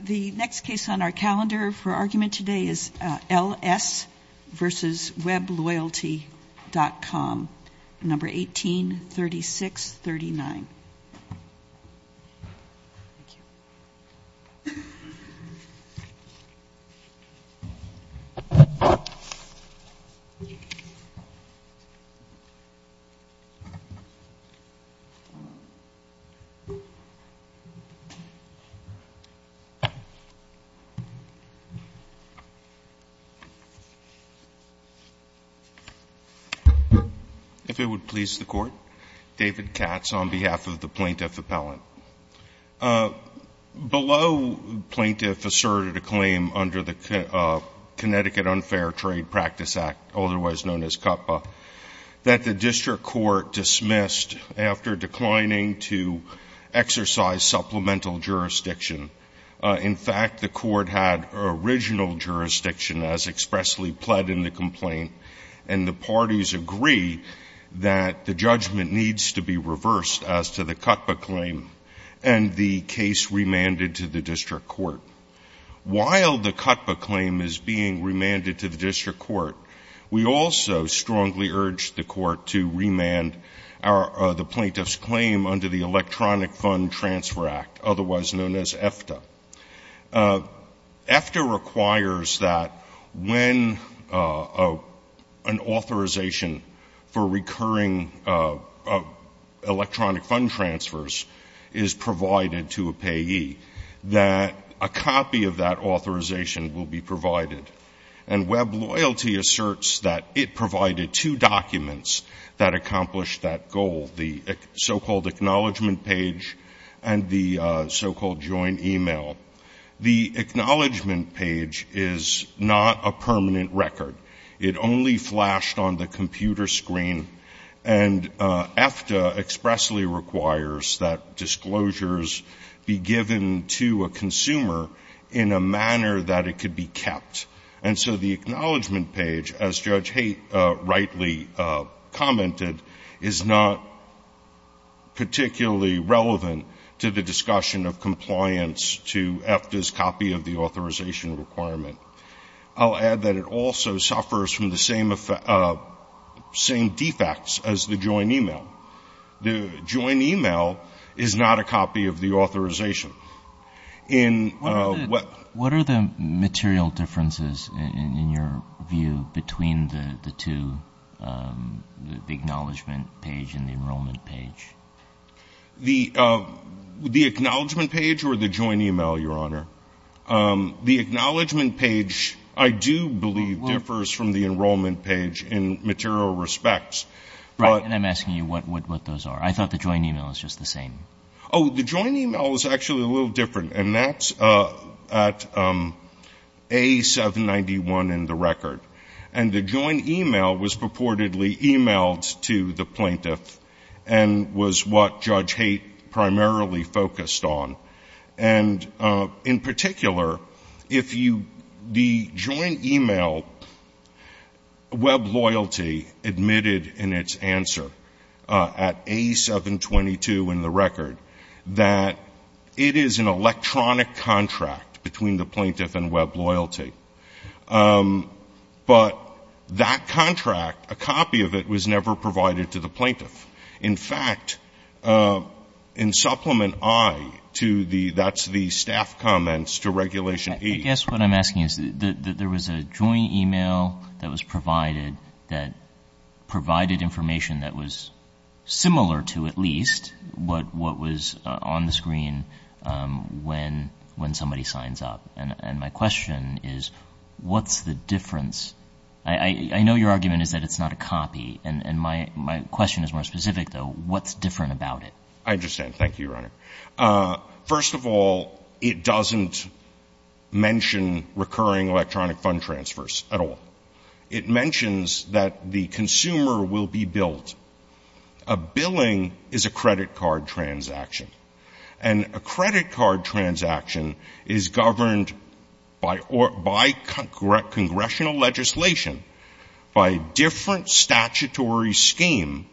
The next case on our calendar for argument today is L.S. v. Webloyalty.com, No. 183639. If it would please the Court, David Katz on behalf of the Plaintiff Appellant. Below Plaintiff asserted a claim under the Connecticut Unfair Trade Practice Act, otherwise known as CUTPA, that the District Court dismissed after declining to exercise supplemental jurisdiction. In fact, the Court had original jurisdiction as expressly pled in the complaint, and the parties agree that the judgment needs to be reversed as to the CUTPA claim and the case remanded to the District Court. While the CUTPA claim is being remanded to the District Court, we also strongly urge the Court to remand the Plaintiff's claim under the Electronic Fund Transfer Act, otherwise known as EFTA. EFTA requires that when an authorization for recurring electronic fund transfers is provided to a payee, that a copy of that authorization will be provided. And Webloyalty asserts that it provided two documents that accomplished that goal, the so-called Acknowledgement Page and the so-called Joint E-mail. The Acknowledgement Page is not a permanent record. It only flashed on the computer screen, and EFTA expressly requires that disclosures be given to a consumer in a manner that it could be kept. And so the Acknowledgement Page, as Judge Haidt rightly commented, is not particularly relevant to the discussion of compliance to EFTA's copy of the authorization requirement. I'll add that it also suffers from the same defects as the Joint E-mail. The Joint E-mail is not a copy of the authorization. In what What are the material differences, in your view, between the two, the Acknowledgement Page and the Enrollment Page? The Acknowledgement Page or the Joint E-mail, Your Honor? The Acknowledgement Page, I do believe, differs from the Enrollment Page in material respects. Right. And I'm asking you what those are. I thought the Joint E-mail was just the same. Oh, the Joint E-mail is actually a little different, and that's at A791 in the record. And the Joint E-mail was purportedly e-mailed to the plaintiff and was what Judge Haidt primarily focused on. And in particular, if you, the Joint E-mail, Web Loyalty admitted in its answer at A722 in the record that it is an electronic contract between the plaintiff and Web Loyalty. But that contract, a copy of it, was never provided to the plaintiff. In fact, in Supplement I to the — that's the staff comments to Regulation 8 — I guess what I'm asking is, there was a Joint E-mail that was provided that provided information that was similar to, at least, what was on the screen when somebody signs up. And my question is, what's the difference? I know your argument is that it's not a copy, and my question is more specific, though. What's different about it? I understand. Thank you, Your Honor. First of all, it doesn't mention recurring electronic fund transfers at all. It mentions that the consumer will be billed. A billing is a credit card transaction. And a credit card transaction is governed by congressional legislation, by a different statutory scheme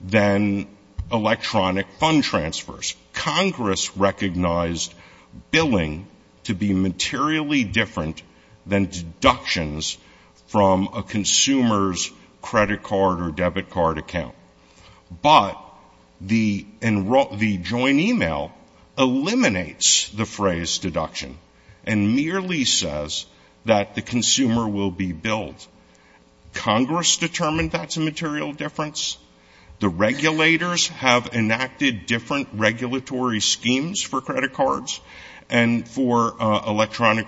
than electronic fund transfers. Congress recognized billing to be materially different than deductions from a consumer's credit card or debit card account. But the Joint E-mail eliminates the phrase deduction and merely says that the consumer will be billed. Congress determined that's a material difference. The regulators have enacted different regulatory schemes for credit cards and for electronic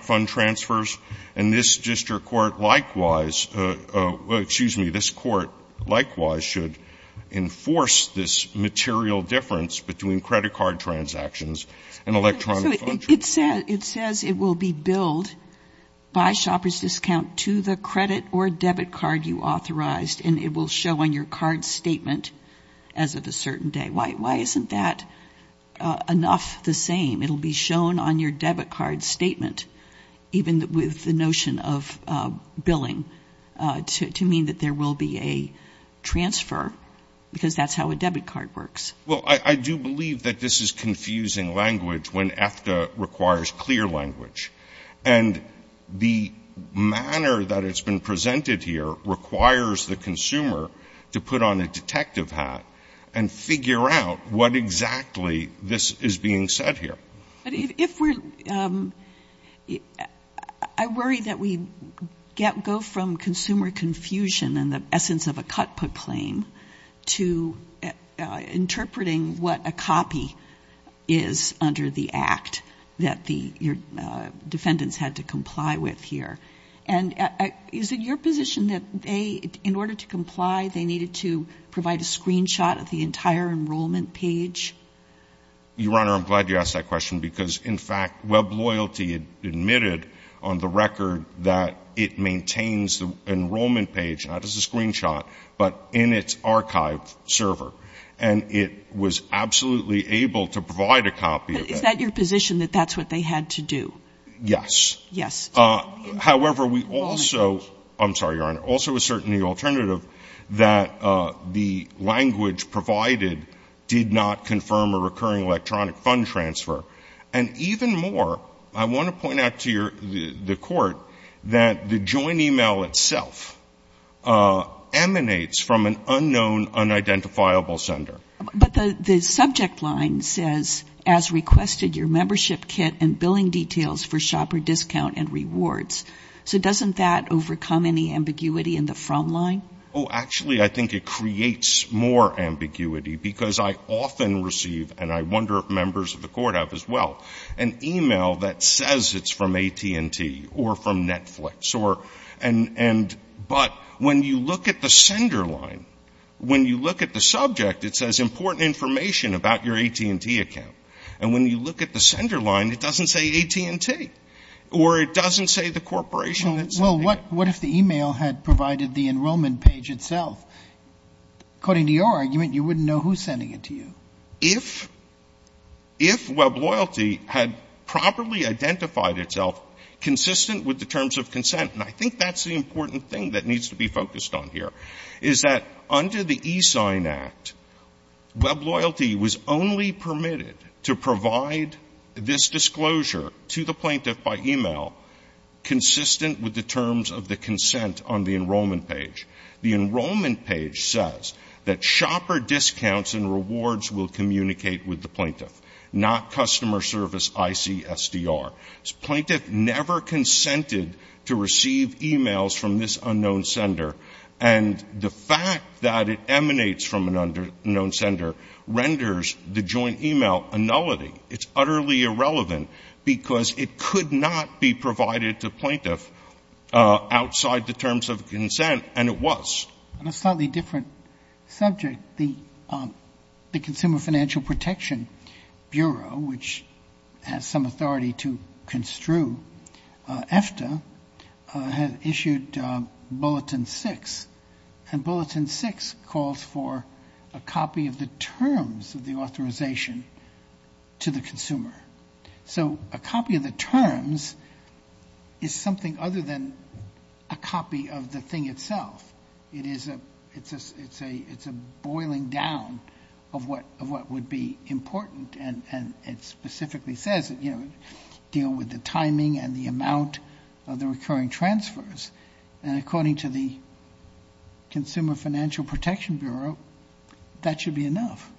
this material difference between credit card transactions and electronic fund transfers. It says it will be billed by shopper's discount to the credit or debit card you authorized, and it will show on your card statement as of a certain day. Why isn't that enough the same? It will be shown on your debit card statement, even with the notion of billing, to mean that there will be a transfer, because that's how a debit card works. Well, I do believe that this is confusing language when EFTA requires clear language. And the manner that it's been presented here requires the consumer to put on a detective hat and figure out what exactly this is being said here. But if we're, I worry that we go from consumer confusion and the essence of a cut put claim to interpreting what a copy is under the act that the defendants had to comply with here. And is it your position that they, in order to comply, they needed to provide a screenshot of the entire enrollment page? Your Honor, I'm glad you asked that question, because in fact, Web Loyalty admitted on the record that it maintains the enrollment page, not as a screenshot, but in its archive server. And it was absolutely able to provide a copy of that. Is that your position, that that's what they had to do? Yes. Yes. However, we also, I'm sorry, Your Honor, also assert in the alternative that the language provided did not confirm a recurring electronic fund transfer. And even more, I want to point out to the Court that the joint email itself emanates from an unknown, unidentifiable sender. But the subject line says, as requested, your membership kit and billing details for shopper discount and rewards. So doesn't that overcome any ambiguity in the from line? Oh, actually, I think it creates more ambiguity, because I often receive, and I wonder if members of the Court have as well, an email that says it's from AT&T or from Netflix or, and, but when you look at the sender line, when you look at the subject, it says important information about your AT&T account. And when you look at the sender line, it doesn't say AT&T, or it doesn't say the corporation that's sending it. Well, what if the email had provided the enrollment page itself? According to your argument, you wouldn't know who's sending it to you. If, if WebLoyalty had properly identified itself consistent with the terms of consent, and I think that's the important thing that needs to be focused on here, is that under the eSign Act, WebLoyalty was only permitted to provide this disclosure to the plaintiff by email consistent with the terms of the consent on the enrollment page. The enrollment page says that shopper discounts and rewards will communicate with the plaintiff, not customer service ICSDR. This plaintiff never consented to receive emails from this unknown sender, and the fact that it emanates from an unknown sender renders the joint email a nullity. It's utterly irrelevant because it could not be provided to plaintiff outside the terms of consent, and it was. And a slightly different subject, the Consumer Financial Protection Bureau, which has some authority to construe EFTA, has issued Bulletin 6, and Bulletin 6 calls for a copy of the terms of the authorization to the consumer. So a copy of the terms is something other than a copy of the thing itself. It is a, it's a, it's a, it's a boiling down of what, of what would be important, and, and it specifically says, you know, deal with the timing and the amount of the That should be enough.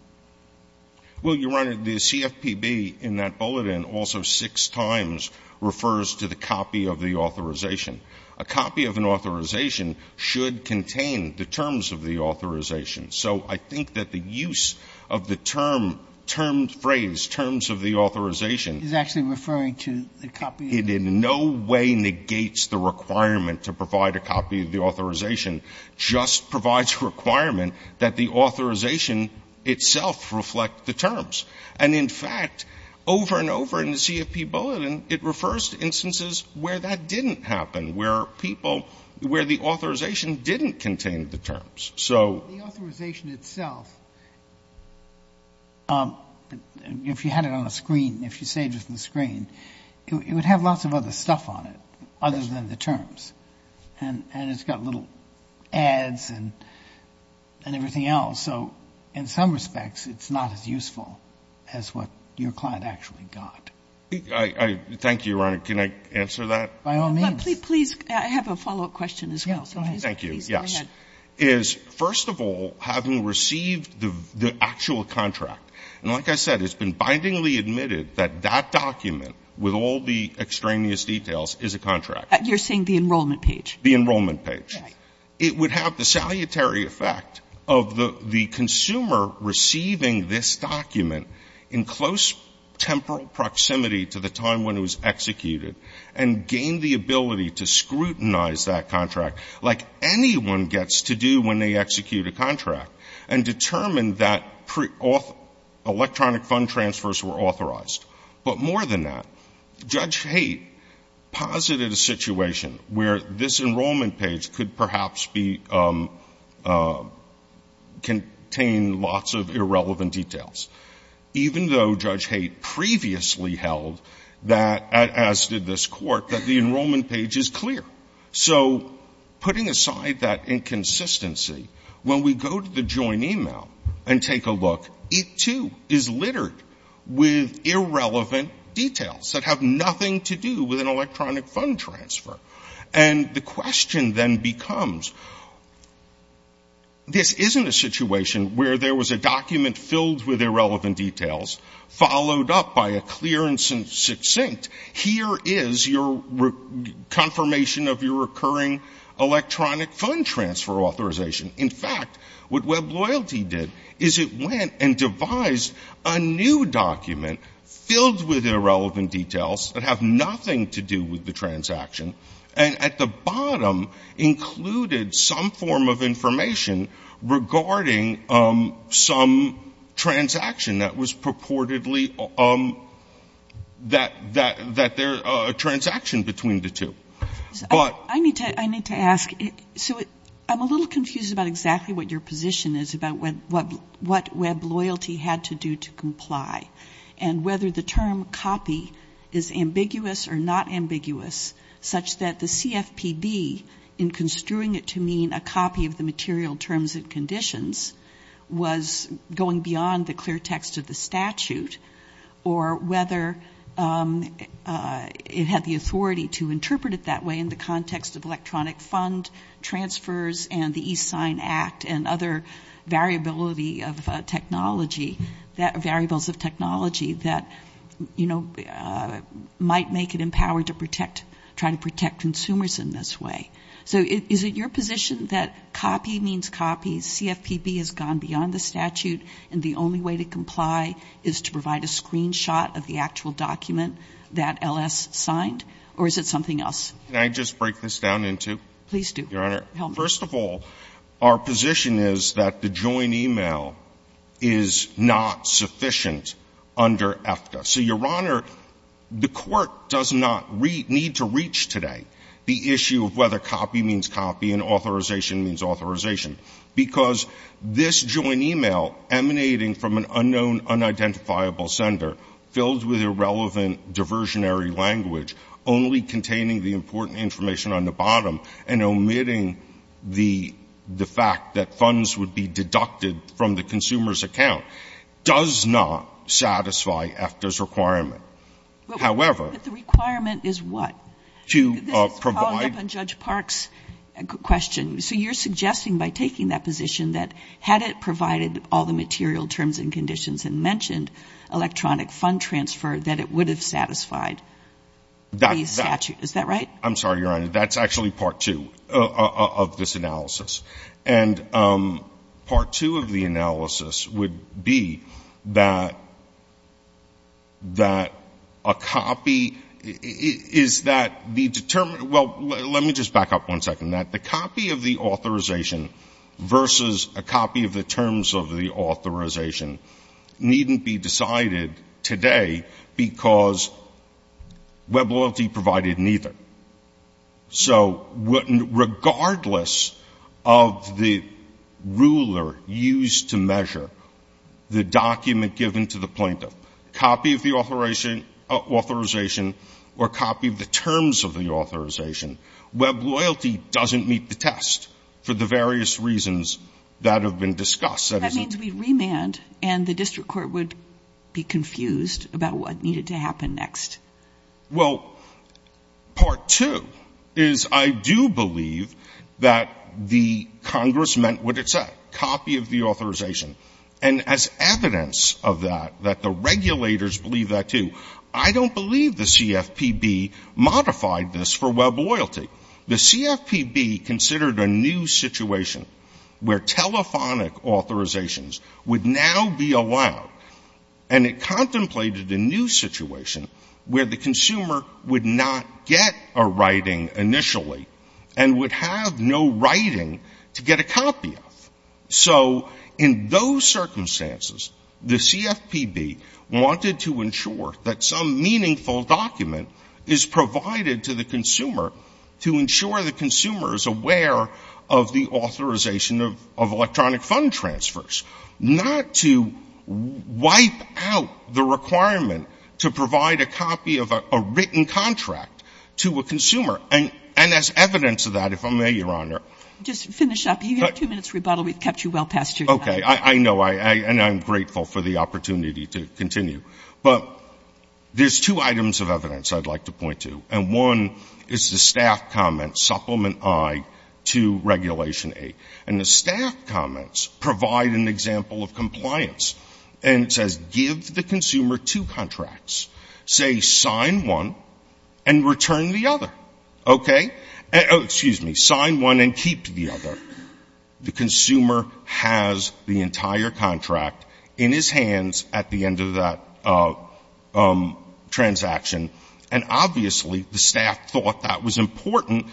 Well, Your Honor, the CFPB in that bulletin also six times refers to the copy of the authorization. A copy of an authorization should contain the terms of the authorization. So I think that the use of the term, termed phrase, terms of the authorization is actually referring to the copy. It in no way negates the requirement to provide a copy of the authorization, just provides a requirement that the authorization itself reflect the terms. And in fact, over and over in the CFPB bulletin, it refers to instances where that didn't happen, where people, where the authorization didn't contain the terms. So the authorization itself, if you had it on a screen, if you saved it on a screen, it would have lots of other stuff on it other than the terms. And, and it's got little ads and, and everything else. So in some respects, it's not as useful as what your client actually got. I, I, thank you, Your Honor. Can I answer that? By all means. Please, please, I have a follow-up question as well. Thank you. Yes. Is, first of all, having received the, the actual contract, and like I said, it's been bindingly admitted that that document with all the extraneous details is a contract. You're saying the enrollment page? The enrollment page. Right. It would have the salutary effect of the, the consumer receiving this document in close temporal proximity to the time when it was executed and gain the ability to scrutinize that contract like anyone gets to do when they execute a contract and determine that pre-auth, electronic fund transfers were authorized. But more than that, Judge Haidt posited a situation where this enrollment page could perhaps be, contain lots of irrelevant details. Even though Judge Haidt previously held that, as did this court, that the enrollment page is clear. So putting aside that inconsistency, when we go to the joint email and take a look, it too is littered with irrelevant details that have nothing to do with an electronic fund transfer. And the question then becomes, this isn't a situation where there was a document filled with irrelevant details, followed up by a clear and succinct, here is your confirmation of your recurring electronic fund transfer authorization. In fact, what Web Loyalty did is it went and devised a new document filled with irrelevant details that have nothing to do with the transaction, and at the bottom included some form of information regarding some transaction that was purportedly that, that, that there, a transaction between the two. But I need to, I need to ask, so I'm a little confused about exactly what your position is about what, what, what Web Loyalty had to do to comply, and whether the term copy is ambiguous or not ambiguous, such that the CFPB, in construing it to mean a copy of the material terms and conditions, was going beyond the clear in the context of electronic fund transfers and the e-sign act and other variability of technology that, variables of technology that, you know, might make it empowered to protect, try to protect consumers in this way. So is it your position that copy means copy, CFPB has gone beyond the statute, and the only way to comply is to provide a screenshot of the actual document that I just break this down into? Please do. Your Honor. First of all, our position is that the joint email is not sufficient under EFTA. So, Your Honor, the court does not need to reach today the issue of whether copy means copy and authorization means authorization, because this joint email emanating from an unknown, unidentifiable sender filled with irrelevant diversionary only containing the important information on the bottom and omitting the fact that funds would be deducted from the consumer's account does not satisfy EFTA's requirement. But the requirement is what? This is following up on Judge Park's question. So you're suggesting by taking that position that had it provided all the material terms and conditions and mentioned electronic fund transfer, that it would have satisfied the statute. Is that right? I'm sorry, Your Honor. That's actually part two of this analysis. And part two of the analysis would be that a copy is that the determined — well, let me just back up one second. That the copy of the authorization versus a copy of the terms of the authorization needn't be decided today because web loyalty provided neither. So regardless of the ruler used to measure the document given to the plaintiff, copy of the authorization or copy of the terms of the authorization, web loyalty doesn't meet the test for the various reasons that have been discussed. That means we'd remand and the district court would be confused about what needed to happen next. Well, part two is I do believe that the Congress meant what it said, copy of the authorization. And as evidence of that, that the regulators believe that too. I don't believe the CFPB modified this for web loyalty. The CFPB considered a new situation where telephonic authorizations would now be allowed. And it contemplated a new situation where the consumer would not get a writing initially and would have no writing to get a copy of. So in those circumstances, the CFPB wanted to ensure that some meaningful document is provided to the consumer to ensure the consumer is aware of the authorization of electronic fund transfers, not to wipe out the requirement to provide a copy of a written contract to a consumer. And as evidence of that, if I may, Your Honor. Just finish up. You have two minutes rebuttal. We've kept you well past your time. Okay. I know. And I'm grateful for the opportunity to continue. But there's two items of evidence I'd like to point to. And one is the staff comment, Supplement I to Regulation 8. And the staff comments provide an example of compliance. And it says, give the consumer two contracts. Say sign one and return the other. Okay. Excuse me. Sign one and keep the other. The consumer has the entire contract in his hands at the end of that transaction. And obviously, the staff thought that was important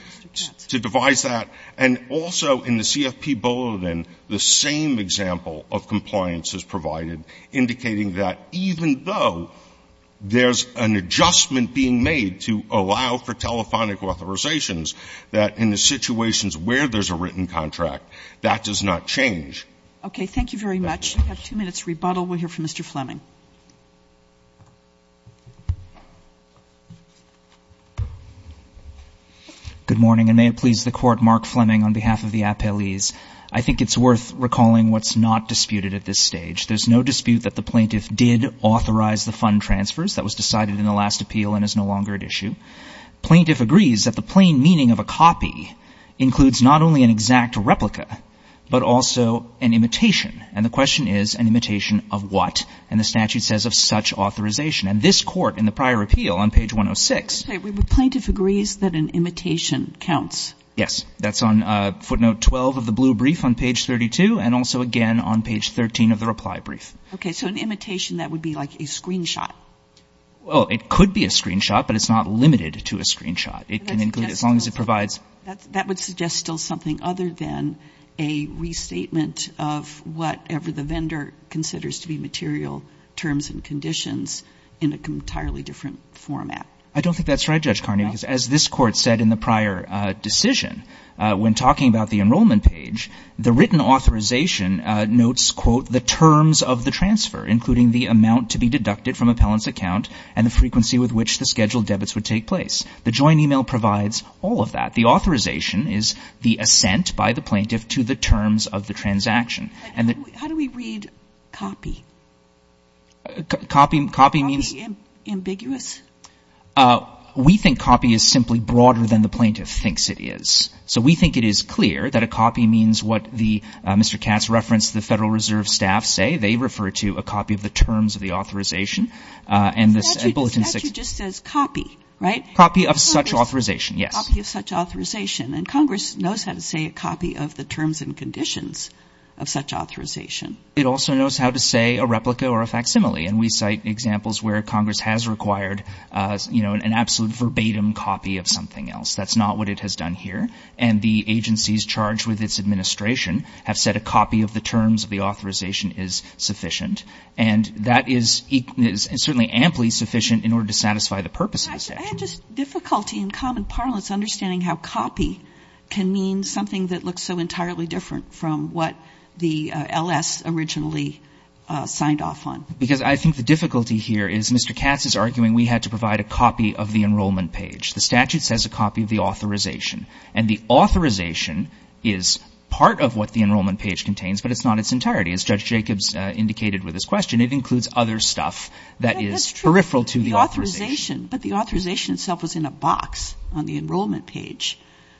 to devise that. And also, in the CFP bulletin, the same example of compliance is provided, indicating that even though there's an adjustment being made to allow for telephonic authorizations, that in the situations where there's a written contract, that does not change. Okay. Thank you very much. You have two minutes rebuttal. We'll hear from Mr. Fleming. Good morning. And may it please the Court, Mark Fleming on behalf of the appellees. I think it's worth recalling what's not disputed at this stage. There's no dispute that the plaintiff did authorize the fund transfers. That was decided in the last appeal and is no longer at issue. Plaintiff agrees that the plain meaning of a copy includes not only an exact replica, but also an imitation. And the question is, an imitation of what? And the statute says, of such authorization. And this Court, in the prior appeal on page 106... Wait. The plaintiff agrees that an imitation counts? Yes. That's on footnote 12 of the blue brief on page 32 and also, again, on page 13 of the reply brief. Okay. So an imitation, that would be like a screenshot. Well, it could be a screenshot, but it's not limited to a screenshot. It can include as long as it provides... That would suggest still something other than a restatement of whatever the vendor considers to be material terms and conditions in an entirely different format. I don't think that's right, Judge Carney, because as this Court said in the prior decision, when talking about the enrollment page, the written authorization notes, quote, the terms of the transfer, including the amount to be deducted from appellant's account and the frequency with which the scheduled debits would take place. The joint email provides all of that. The authorization is the assent by the plaintiff to the terms of the transaction. How do we read copy? Copy means... Copy ambiguous? We think copy is simply broader than the plaintiff thinks it is. So we think it is clear that a copy means what the... They refer to a copy of the terms of the authorization and this bulletin... Statute just says copy, right? Copy of such authorization, yes. Copy of such authorization. And Congress knows how to say a copy of the terms and conditions of such authorization. It also knows how to say a replica or a facsimile. And we cite examples where Congress has required, you know, an absolute verbatim copy of something else. That's not what it has done here. And the agencies charged with its administration have said a copy of the terms of the authorization is sufficient. And that is certainly amply sufficient in order to satisfy the purpose of the statute. I had just difficulty in common parlance understanding how copy can mean something that looks so entirely different from what the L.S. originally signed off on. Because I think the difficulty here is Mr. Katz is arguing we had to provide a copy of the enrollment page. The statute says a copy of the authorization. And the authorization is part of what the enrollment page contains, but it's not its entirety. As Judge Jacobs indicated with his question, it includes other stuff that is peripheral to the authorization. But the authorization itself was in a box on the enrollment page,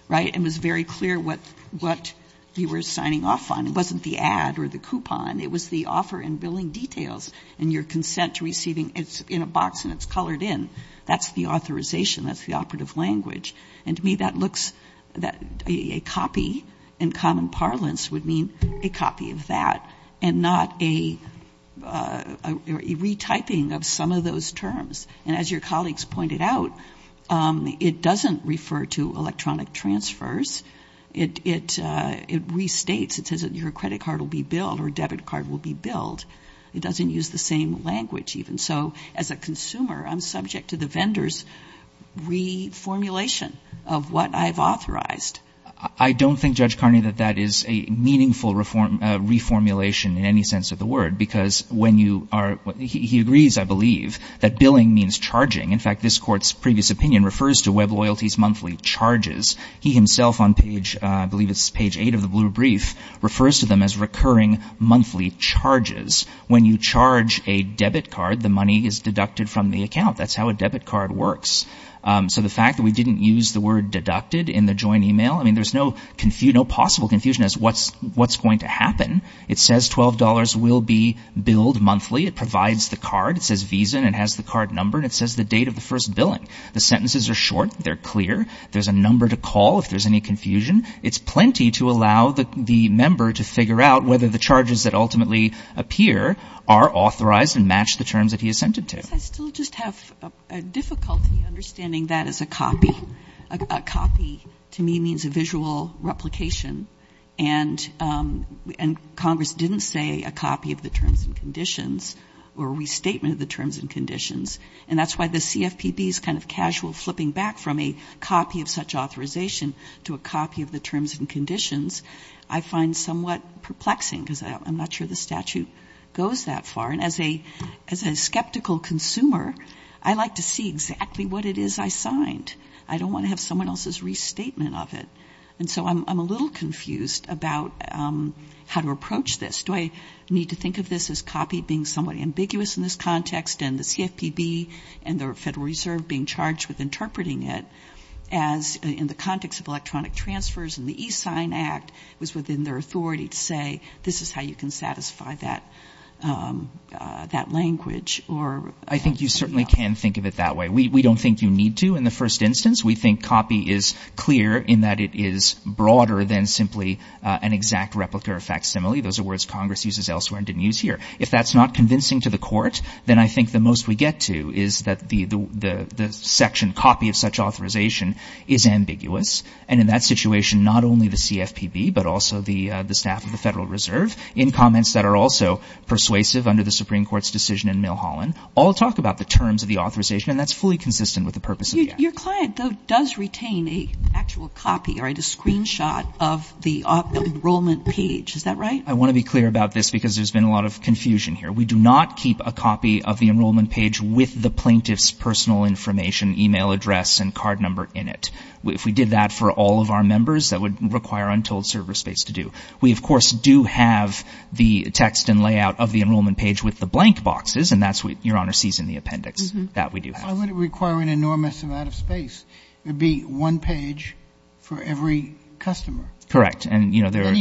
right? It was very clear what you were signing off on. It wasn't the ad or the coupon. It was the offer and billing details and your consent to receiving. It's in a box and it's colored in. That's the authorization. That's the operative language. And to me that looks that a copy in common parlance would mean a copy of that and not a retyping of some of those terms. And as your colleagues pointed out, it doesn't refer to electronic transfers. It restates. It says that your credit card will be billed or debit card will be billed. It doesn't use the same language even. So as a consumer, I'm subject to the vendor's reformulation of what I've authorized. I don't think, Judge Carney, that that is a meaningful reformulation in any sense of the word. Because when you are, he agrees, I believe, that billing means charging. In fact, this court's previous opinion refers to web loyalties monthly charges. He himself on page, I believe it's page eight of the blue brief, refers to them as recurring monthly charges. When you charge a debit card, the money is deducted from the account. That's how a debit card works. So the fact that we didn't use the word deducted in the joint email, I mean, there's no possible confusion as what's going to happen. It says $12 will be billed monthly. It provides the card. It says Visa and it has the card number and it says the date of the first billing. The sentences are short. They're clear. There's a number to call if there's any confusion. It's plenty to allow the member to figure out whether the charges that ultimately appear are authorized and match the terms that he assented to. I still just have a difficulty understanding that as a copy. A copy, to me, means a visual replication. And Congress didn't say a copy of the terms and conditions or restatement of the terms and conditions. And that's why the CFPB's kind of casual flipping back from a copy of such authorization to a copy of the terms and conditions. I find somewhat perplexing because I'm not sure the statute goes that far. And as a skeptical consumer, I like to see exactly what it is I signed. I don't want to have someone else's restatement of it. And so I'm a little confused about how to approach this. Do I need to think of this as copy being somewhat ambiguous in this context and the CFPB and the Federal Reserve being charged with interpreting it as in the context of electronic transfers and the E-Sign Act was within their authority to say, this is how you can satisfy that language? Or I think you certainly can think of it that way. We don't think you need to in the first instance. We think copy is clear in that it is broader than simply an exact replica or facsimile. Those are words Congress uses elsewhere and didn't use here. If that's not convincing to the court, then I think the most we get to is that the section copy of such authorization is ambiguous. And in that situation, not only the CFPB, but also the staff of the Federal Reserve in comments that are also persuasive under the Supreme Court's decision in Milholland, all talk about the terms of the authorization. And that's fully consistent with the purpose of the act. Your client, though, does retain a actual copy or a screenshot of the enrollment page. Is that right? I want to be clear about this because there's been a lot of confusion here. We do not keep a copy of the enrollment page with the plaintiff's personal information, e-mail address, and card number in it. If we did that for all of our members, that would require untold server space to do. We, of course, do have the text and layout of the enrollment page with the blank boxes, and that's what Your Honor sees in the appendix, that we do have. I would require an enormous amount of space. It would be one page for every customer. Correct. And, you know, there are—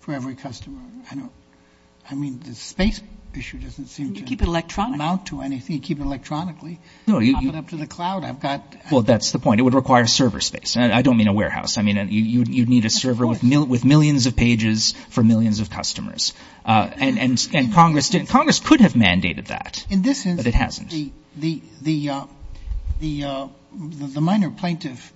for every customer. I don't—I mean, the space issue doesn't seem to— Keep it electronic. —amount to anything. Keep it electronically. No, you— Pop it up to the cloud. I've got— Well, that's the point. It would require server space. I don't mean a warehouse. I mean, you'd need a server with millions of pages for millions of customers. And Congress could have mandated that, but it hasn't. In this instance, the minor plaintiff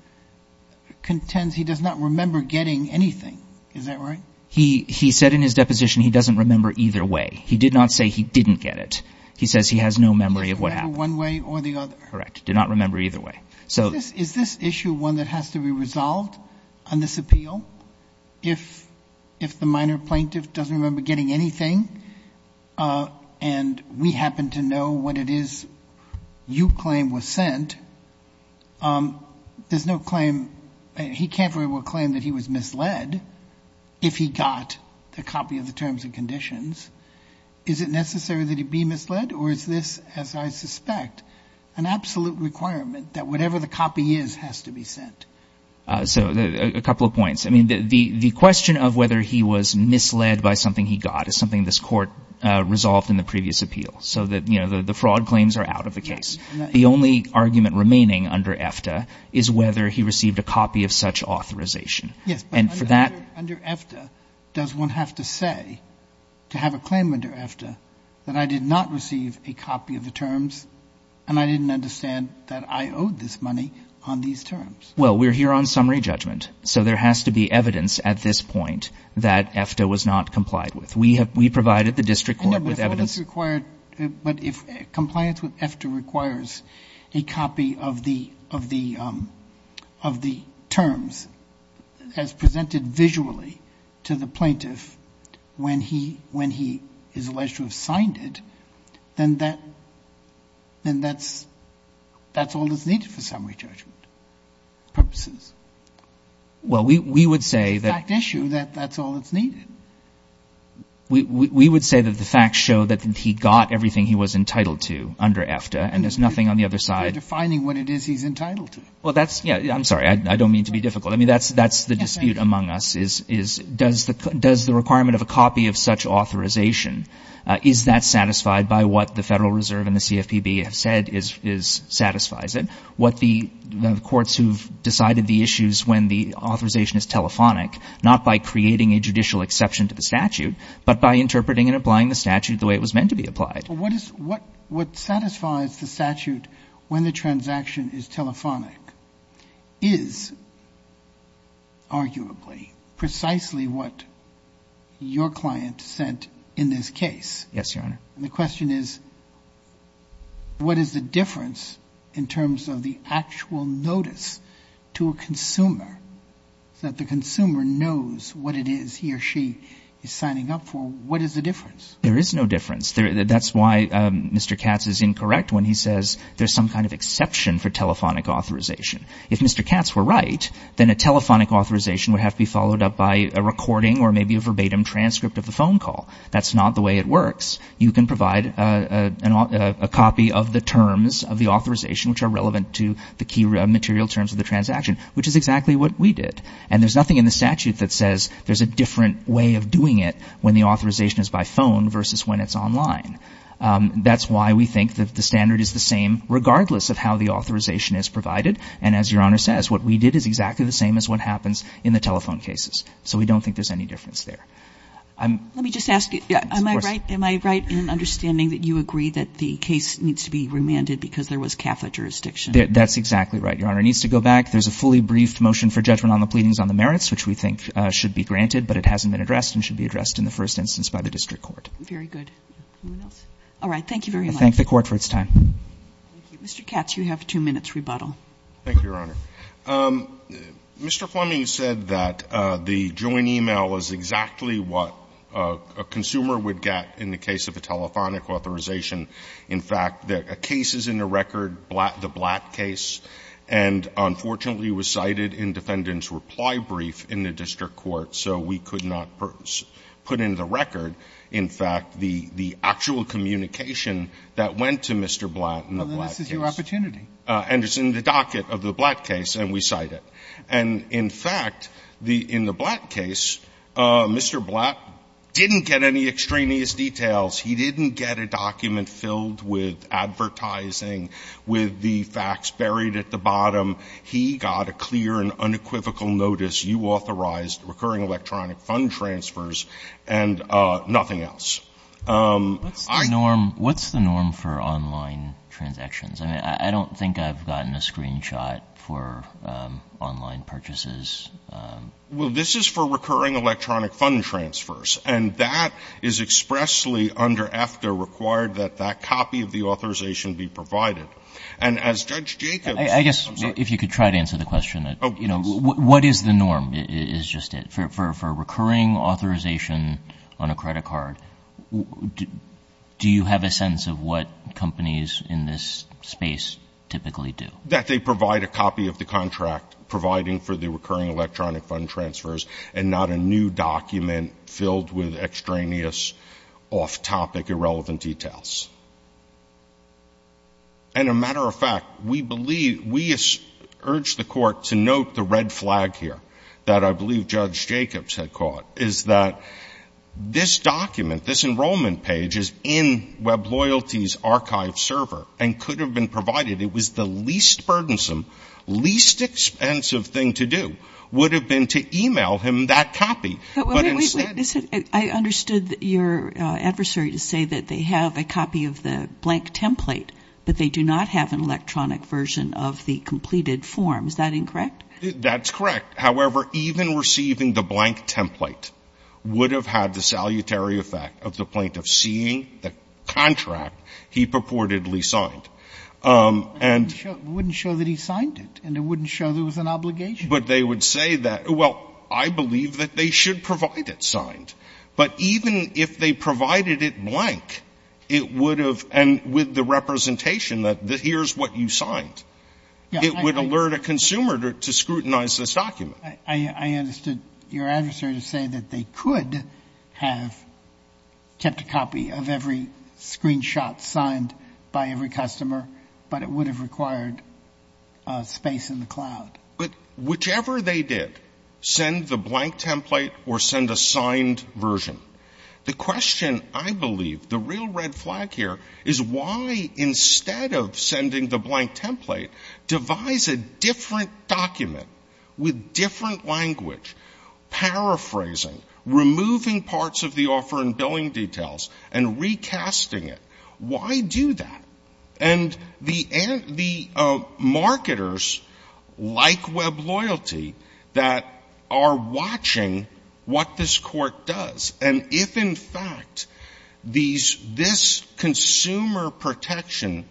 contends he does not remember getting anything. Is that right? He said in his deposition he doesn't remember either way. He did not say he didn't get it. He says he has no memory of what happened. He doesn't remember one way or the other. Correct. Did not remember either way. So— Is this issue one that has to be resolved on this appeal? If the minor plaintiff doesn't remember getting anything, and we happen to know what it is you claim was sent, there's no claim—he can't very well claim that he was misled. If he got a copy of the terms and conditions, is it necessary that he be misled, or is this, as I suspect, an absolute requirement that whatever the copy is has to be sent? So a couple of points. I mean, the question of whether he was misled by something he got is something this court resolved in the previous appeal. So that, you know, the fraud claims are out of the case. The only argument remaining under EFTA is whether he received a copy of such authorization. Yes. Under EFTA, does one have to say, to have a claim under EFTA, that I did not receive a copy of the terms and I didn't understand that I owed this money on these terms? Well, we're here on summary judgment, so there has to be evidence at this point that EFTA was not complied with. We have—we provided the district court with evidence— But if compliance with EFTA requires a copy of the terms as presented visually to the plaintiff when he is alleged to have signed it, then that's all that's needed for summary judgment purposes. Well, we would say— It's a fact issue that that's all that's needed. We would say that the facts show that he got everything he was entitled to under EFTA and there's nothing on the other side— Defining what it is he's entitled to. Well, that's—yeah, I'm sorry. I don't mean to be difficult. I mean, that's the dispute among us is, does the requirement of a copy of such authorization, is that satisfied by what the Federal Reserve and the CFPB have said satisfies it? What the courts who've decided the issues when the authorization is telephonic, not by creating a judicial exception to the statute, but by interpreting and applying the statute the way it was meant to be applied. What satisfies the statute when the transaction is telephonic is arguably precisely what your client sent in this case. Yes, Your Honor. And the question is, what is the difference in terms of the actual notice to a consumer that the consumer knows what it is he or she is signing up for? What is the difference? There is no difference. That's why Mr. Katz is incorrect when he says there's some kind of exception for telephonic authorization. If Mr. Katz were right, then a telephonic authorization would have to be followed up by a recording or maybe a verbatim transcript of the phone call. That's not the way it works. You can provide a copy of the terms of the authorization, which are relevant to the key material terms of the transaction, which is exactly what we did. And there's nothing in the statute that says there's a different way of doing it when the authorization is by phone versus when it's online. That's why we think that the standard is the same regardless of how the authorization is provided. And as Your Honor says, what we did is exactly the same as what happens in the telephone cases. So we don't think there's any difference there. Let me just ask you, am I right in understanding that you agree that the case needs to be remanded because there was CAFA jurisdiction? That's exactly right, Your Honor. It needs to go back. There's a fully briefed motion for judgment on the pleadings on the merits, which we think should be granted, but it hasn't been addressed and should be addressed in the first instance by the district court. Very good. Anyone else? All right. Thank you very much. I thank the Court for its time. Thank you. Mr. Katz, you have two minutes rebuttal. Thank you, Your Honor. Mr. Fleming said that the joint e-mail is exactly what a consumer would get in the case of a telephonic authorization. In fact, a case is in the record, the Blatt case, and unfortunately was cited in defendant's reply brief in the district court, so we could not put in the record, in fact, the actual communication that went to Mr. Blatt in the Blatt case. Well, then this is your opportunity. And it's in the docket of the Blatt case, and we cite it. And in fact, in the Blatt case, Mr. Blatt didn't get any extraneous details. He didn't get a document filled with advertising, with the facts buried at the bottom. He got a clear and unequivocal notice. You authorized recurring electronic fund transfers and nothing else. What's the norm for online transactions? I mean, I don't think I've gotten a screenshot for online purchases. Well, this is for recurring electronic fund transfers. And that is expressly, under EFTA, required that that copy of the authorization And as Judge Jacobs said, I'm sorry. If you could try to answer the question. What is the norm, is just it. For recurring authorization on a credit card, do you have a sense of what companies in this space typically do? That they provide a copy of the contract providing for the recurring electronic fund transfers and not a new document filled with extraneous, off-topic, irrelevant details. And a matter of fact, we believe, we urge the court to note the red flag here that I believe Judge Jacobs had caught. Is that this document, this enrollment page is in Web Loyalty's archive server and could have been provided. It was the least burdensome, least expensive thing to do, would have been to email him that copy. But instead... I understood your adversary to say that they have a copy of the contract. They have a copy of the blank template. But they do not have an electronic version of the completed form. Is that incorrect? That's correct. However, even receiving the blank template would have had the salutary effect of the plaintiff seeing the contract he purportedly signed. And... It wouldn't show that he signed it. And it wouldn't show there was an obligation. But they would say that, well, I believe that they should provide it signed. But even if they provided it blank, it would have... And with the representation that here's what you signed. It would alert a consumer to scrutinize this document. I understood your adversary to say that they could have kept a copy of every screenshot signed by every customer, but it would have required space in the cloud. But whichever they did, send the blank template or send a signed version. The question, I believe, the real red flag here is why instead of sending the blank template, devise a different document with different language, paraphrasing, removing parts of the offer and billing details, and recasting it. Why do that? And the marketers like Web Loyalty that are watching what this court does. And if, in fact, this consumer protection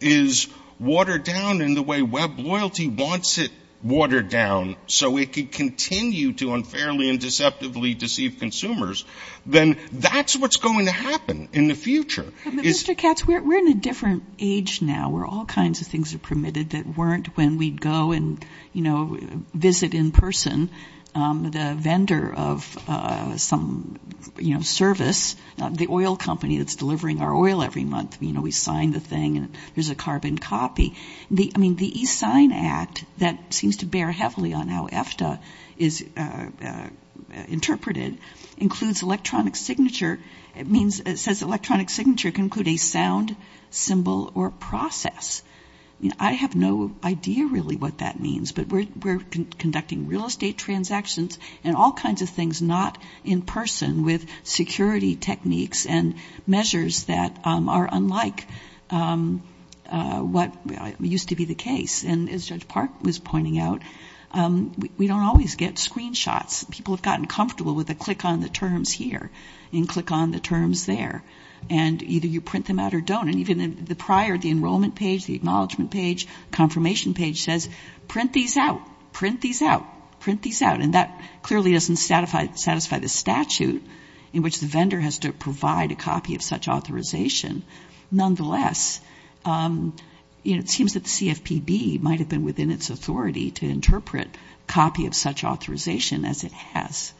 is watered down in the way Web Loyalty wants it watered down so it could continue to unfairly and deceptively deceive consumers, then that's what's going to happen in the future. Mr. Katz, we're in a different age now where all kinds of things are permitted that weren't when we'd go and, you know, visit in person the vendor of some, you know, service, the oil company that's delivering our oil every month. You know, we sign the thing and there's a carbon copy. I mean, the e-sign act that seems to bear heavily on how EFTA is interpreted includes electronic signature. It means it says electronic signature can include a sound, symbol, or process. I have no idea really what that means, but we're conducting real estate transactions and all kinds of things not in person with security techniques and measures that are unlike what used to be the case. And as Judge Park was pointing out, we don't always get screenshots. People have gotten comfortable with a click on the terms here and click on the terms there. And either you print them out or don't. And even the prior, the enrollment page, the acknowledgement page, confirmation page says print these out, print these out, print these out. And that clearly doesn't satisfy the statute in which the vendor has to provide a copy of such authorization. Nonetheless, you know, it seems that the CFPB might have been within its authority to interpret copy of such authorization as it has.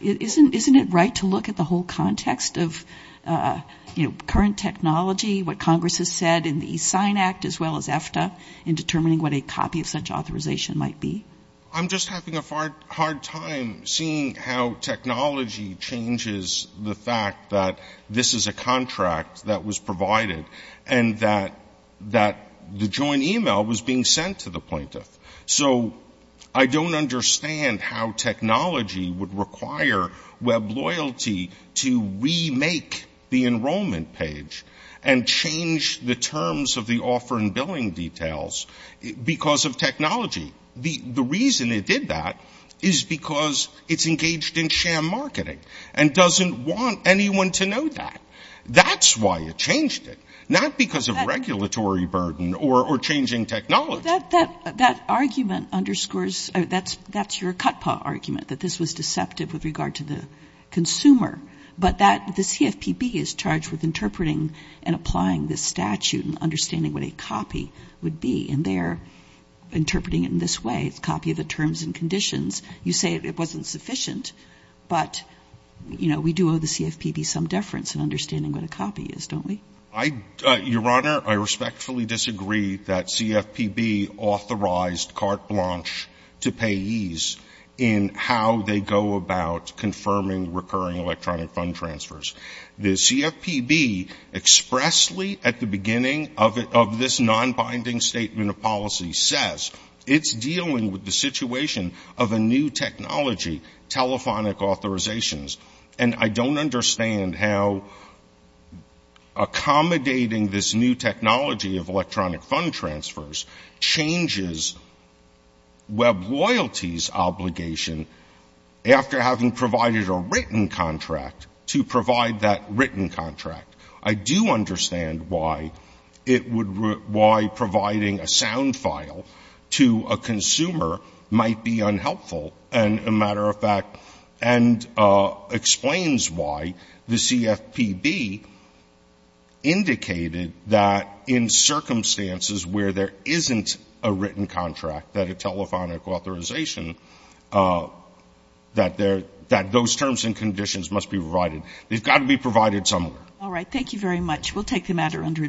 Isn't it right to look at the whole context of, you know, current technology, what Congress has said in the e-sign act, as well as EFTA in determining what a copy of such authorization might be? I'm just having a hard time seeing how technology changes the fact that this is a contract that was provided and that the joint email was being sent to the plaintiff. So I don't understand how technology would require web loyalty to remake the enrollment page and change the terms of the offer and billing details because of technology. The reason it did that is because it's engaged in sham marketing and doesn't want anyone to know that. That's why it changed it. Not because of regulatory burden or changing technology. That argument underscores, that's your cut paw argument, that this was deceptive with regard to the consumer. But the CFPB is charged with interpreting and applying this statute and understanding what a copy would be. And they're interpreting it in this way, a copy of the terms and conditions. You say it wasn't sufficient, but, you know, we do owe the CFPB some deference in understanding what a copy is, don't we? Your Honor, I respectfully disagree that CFPB authorized carte blanche to payees in how they go about confirming recurring electronic fund transfers. The CFPB expressly at the beginning of this non-binding statement of policy says it's dealing with the situation of a new technology, telephonic authorizations. And I don't understand how accommodating this new technology of electronic fund transfers changes Web loyalty's obligation, after having provided a written contract, to provide that written contract. I do understand why it would, why providing a sound file to a consumer might be unhelpful. And, as a matter of fact, and explains why the CFPB indicated that in circumstances where there isn't a written contract, that a telephonic authorization, that those terms and conditions must be provided. They've got to be provided somewhere. All right. Thank you very much. We'll take the matter under review.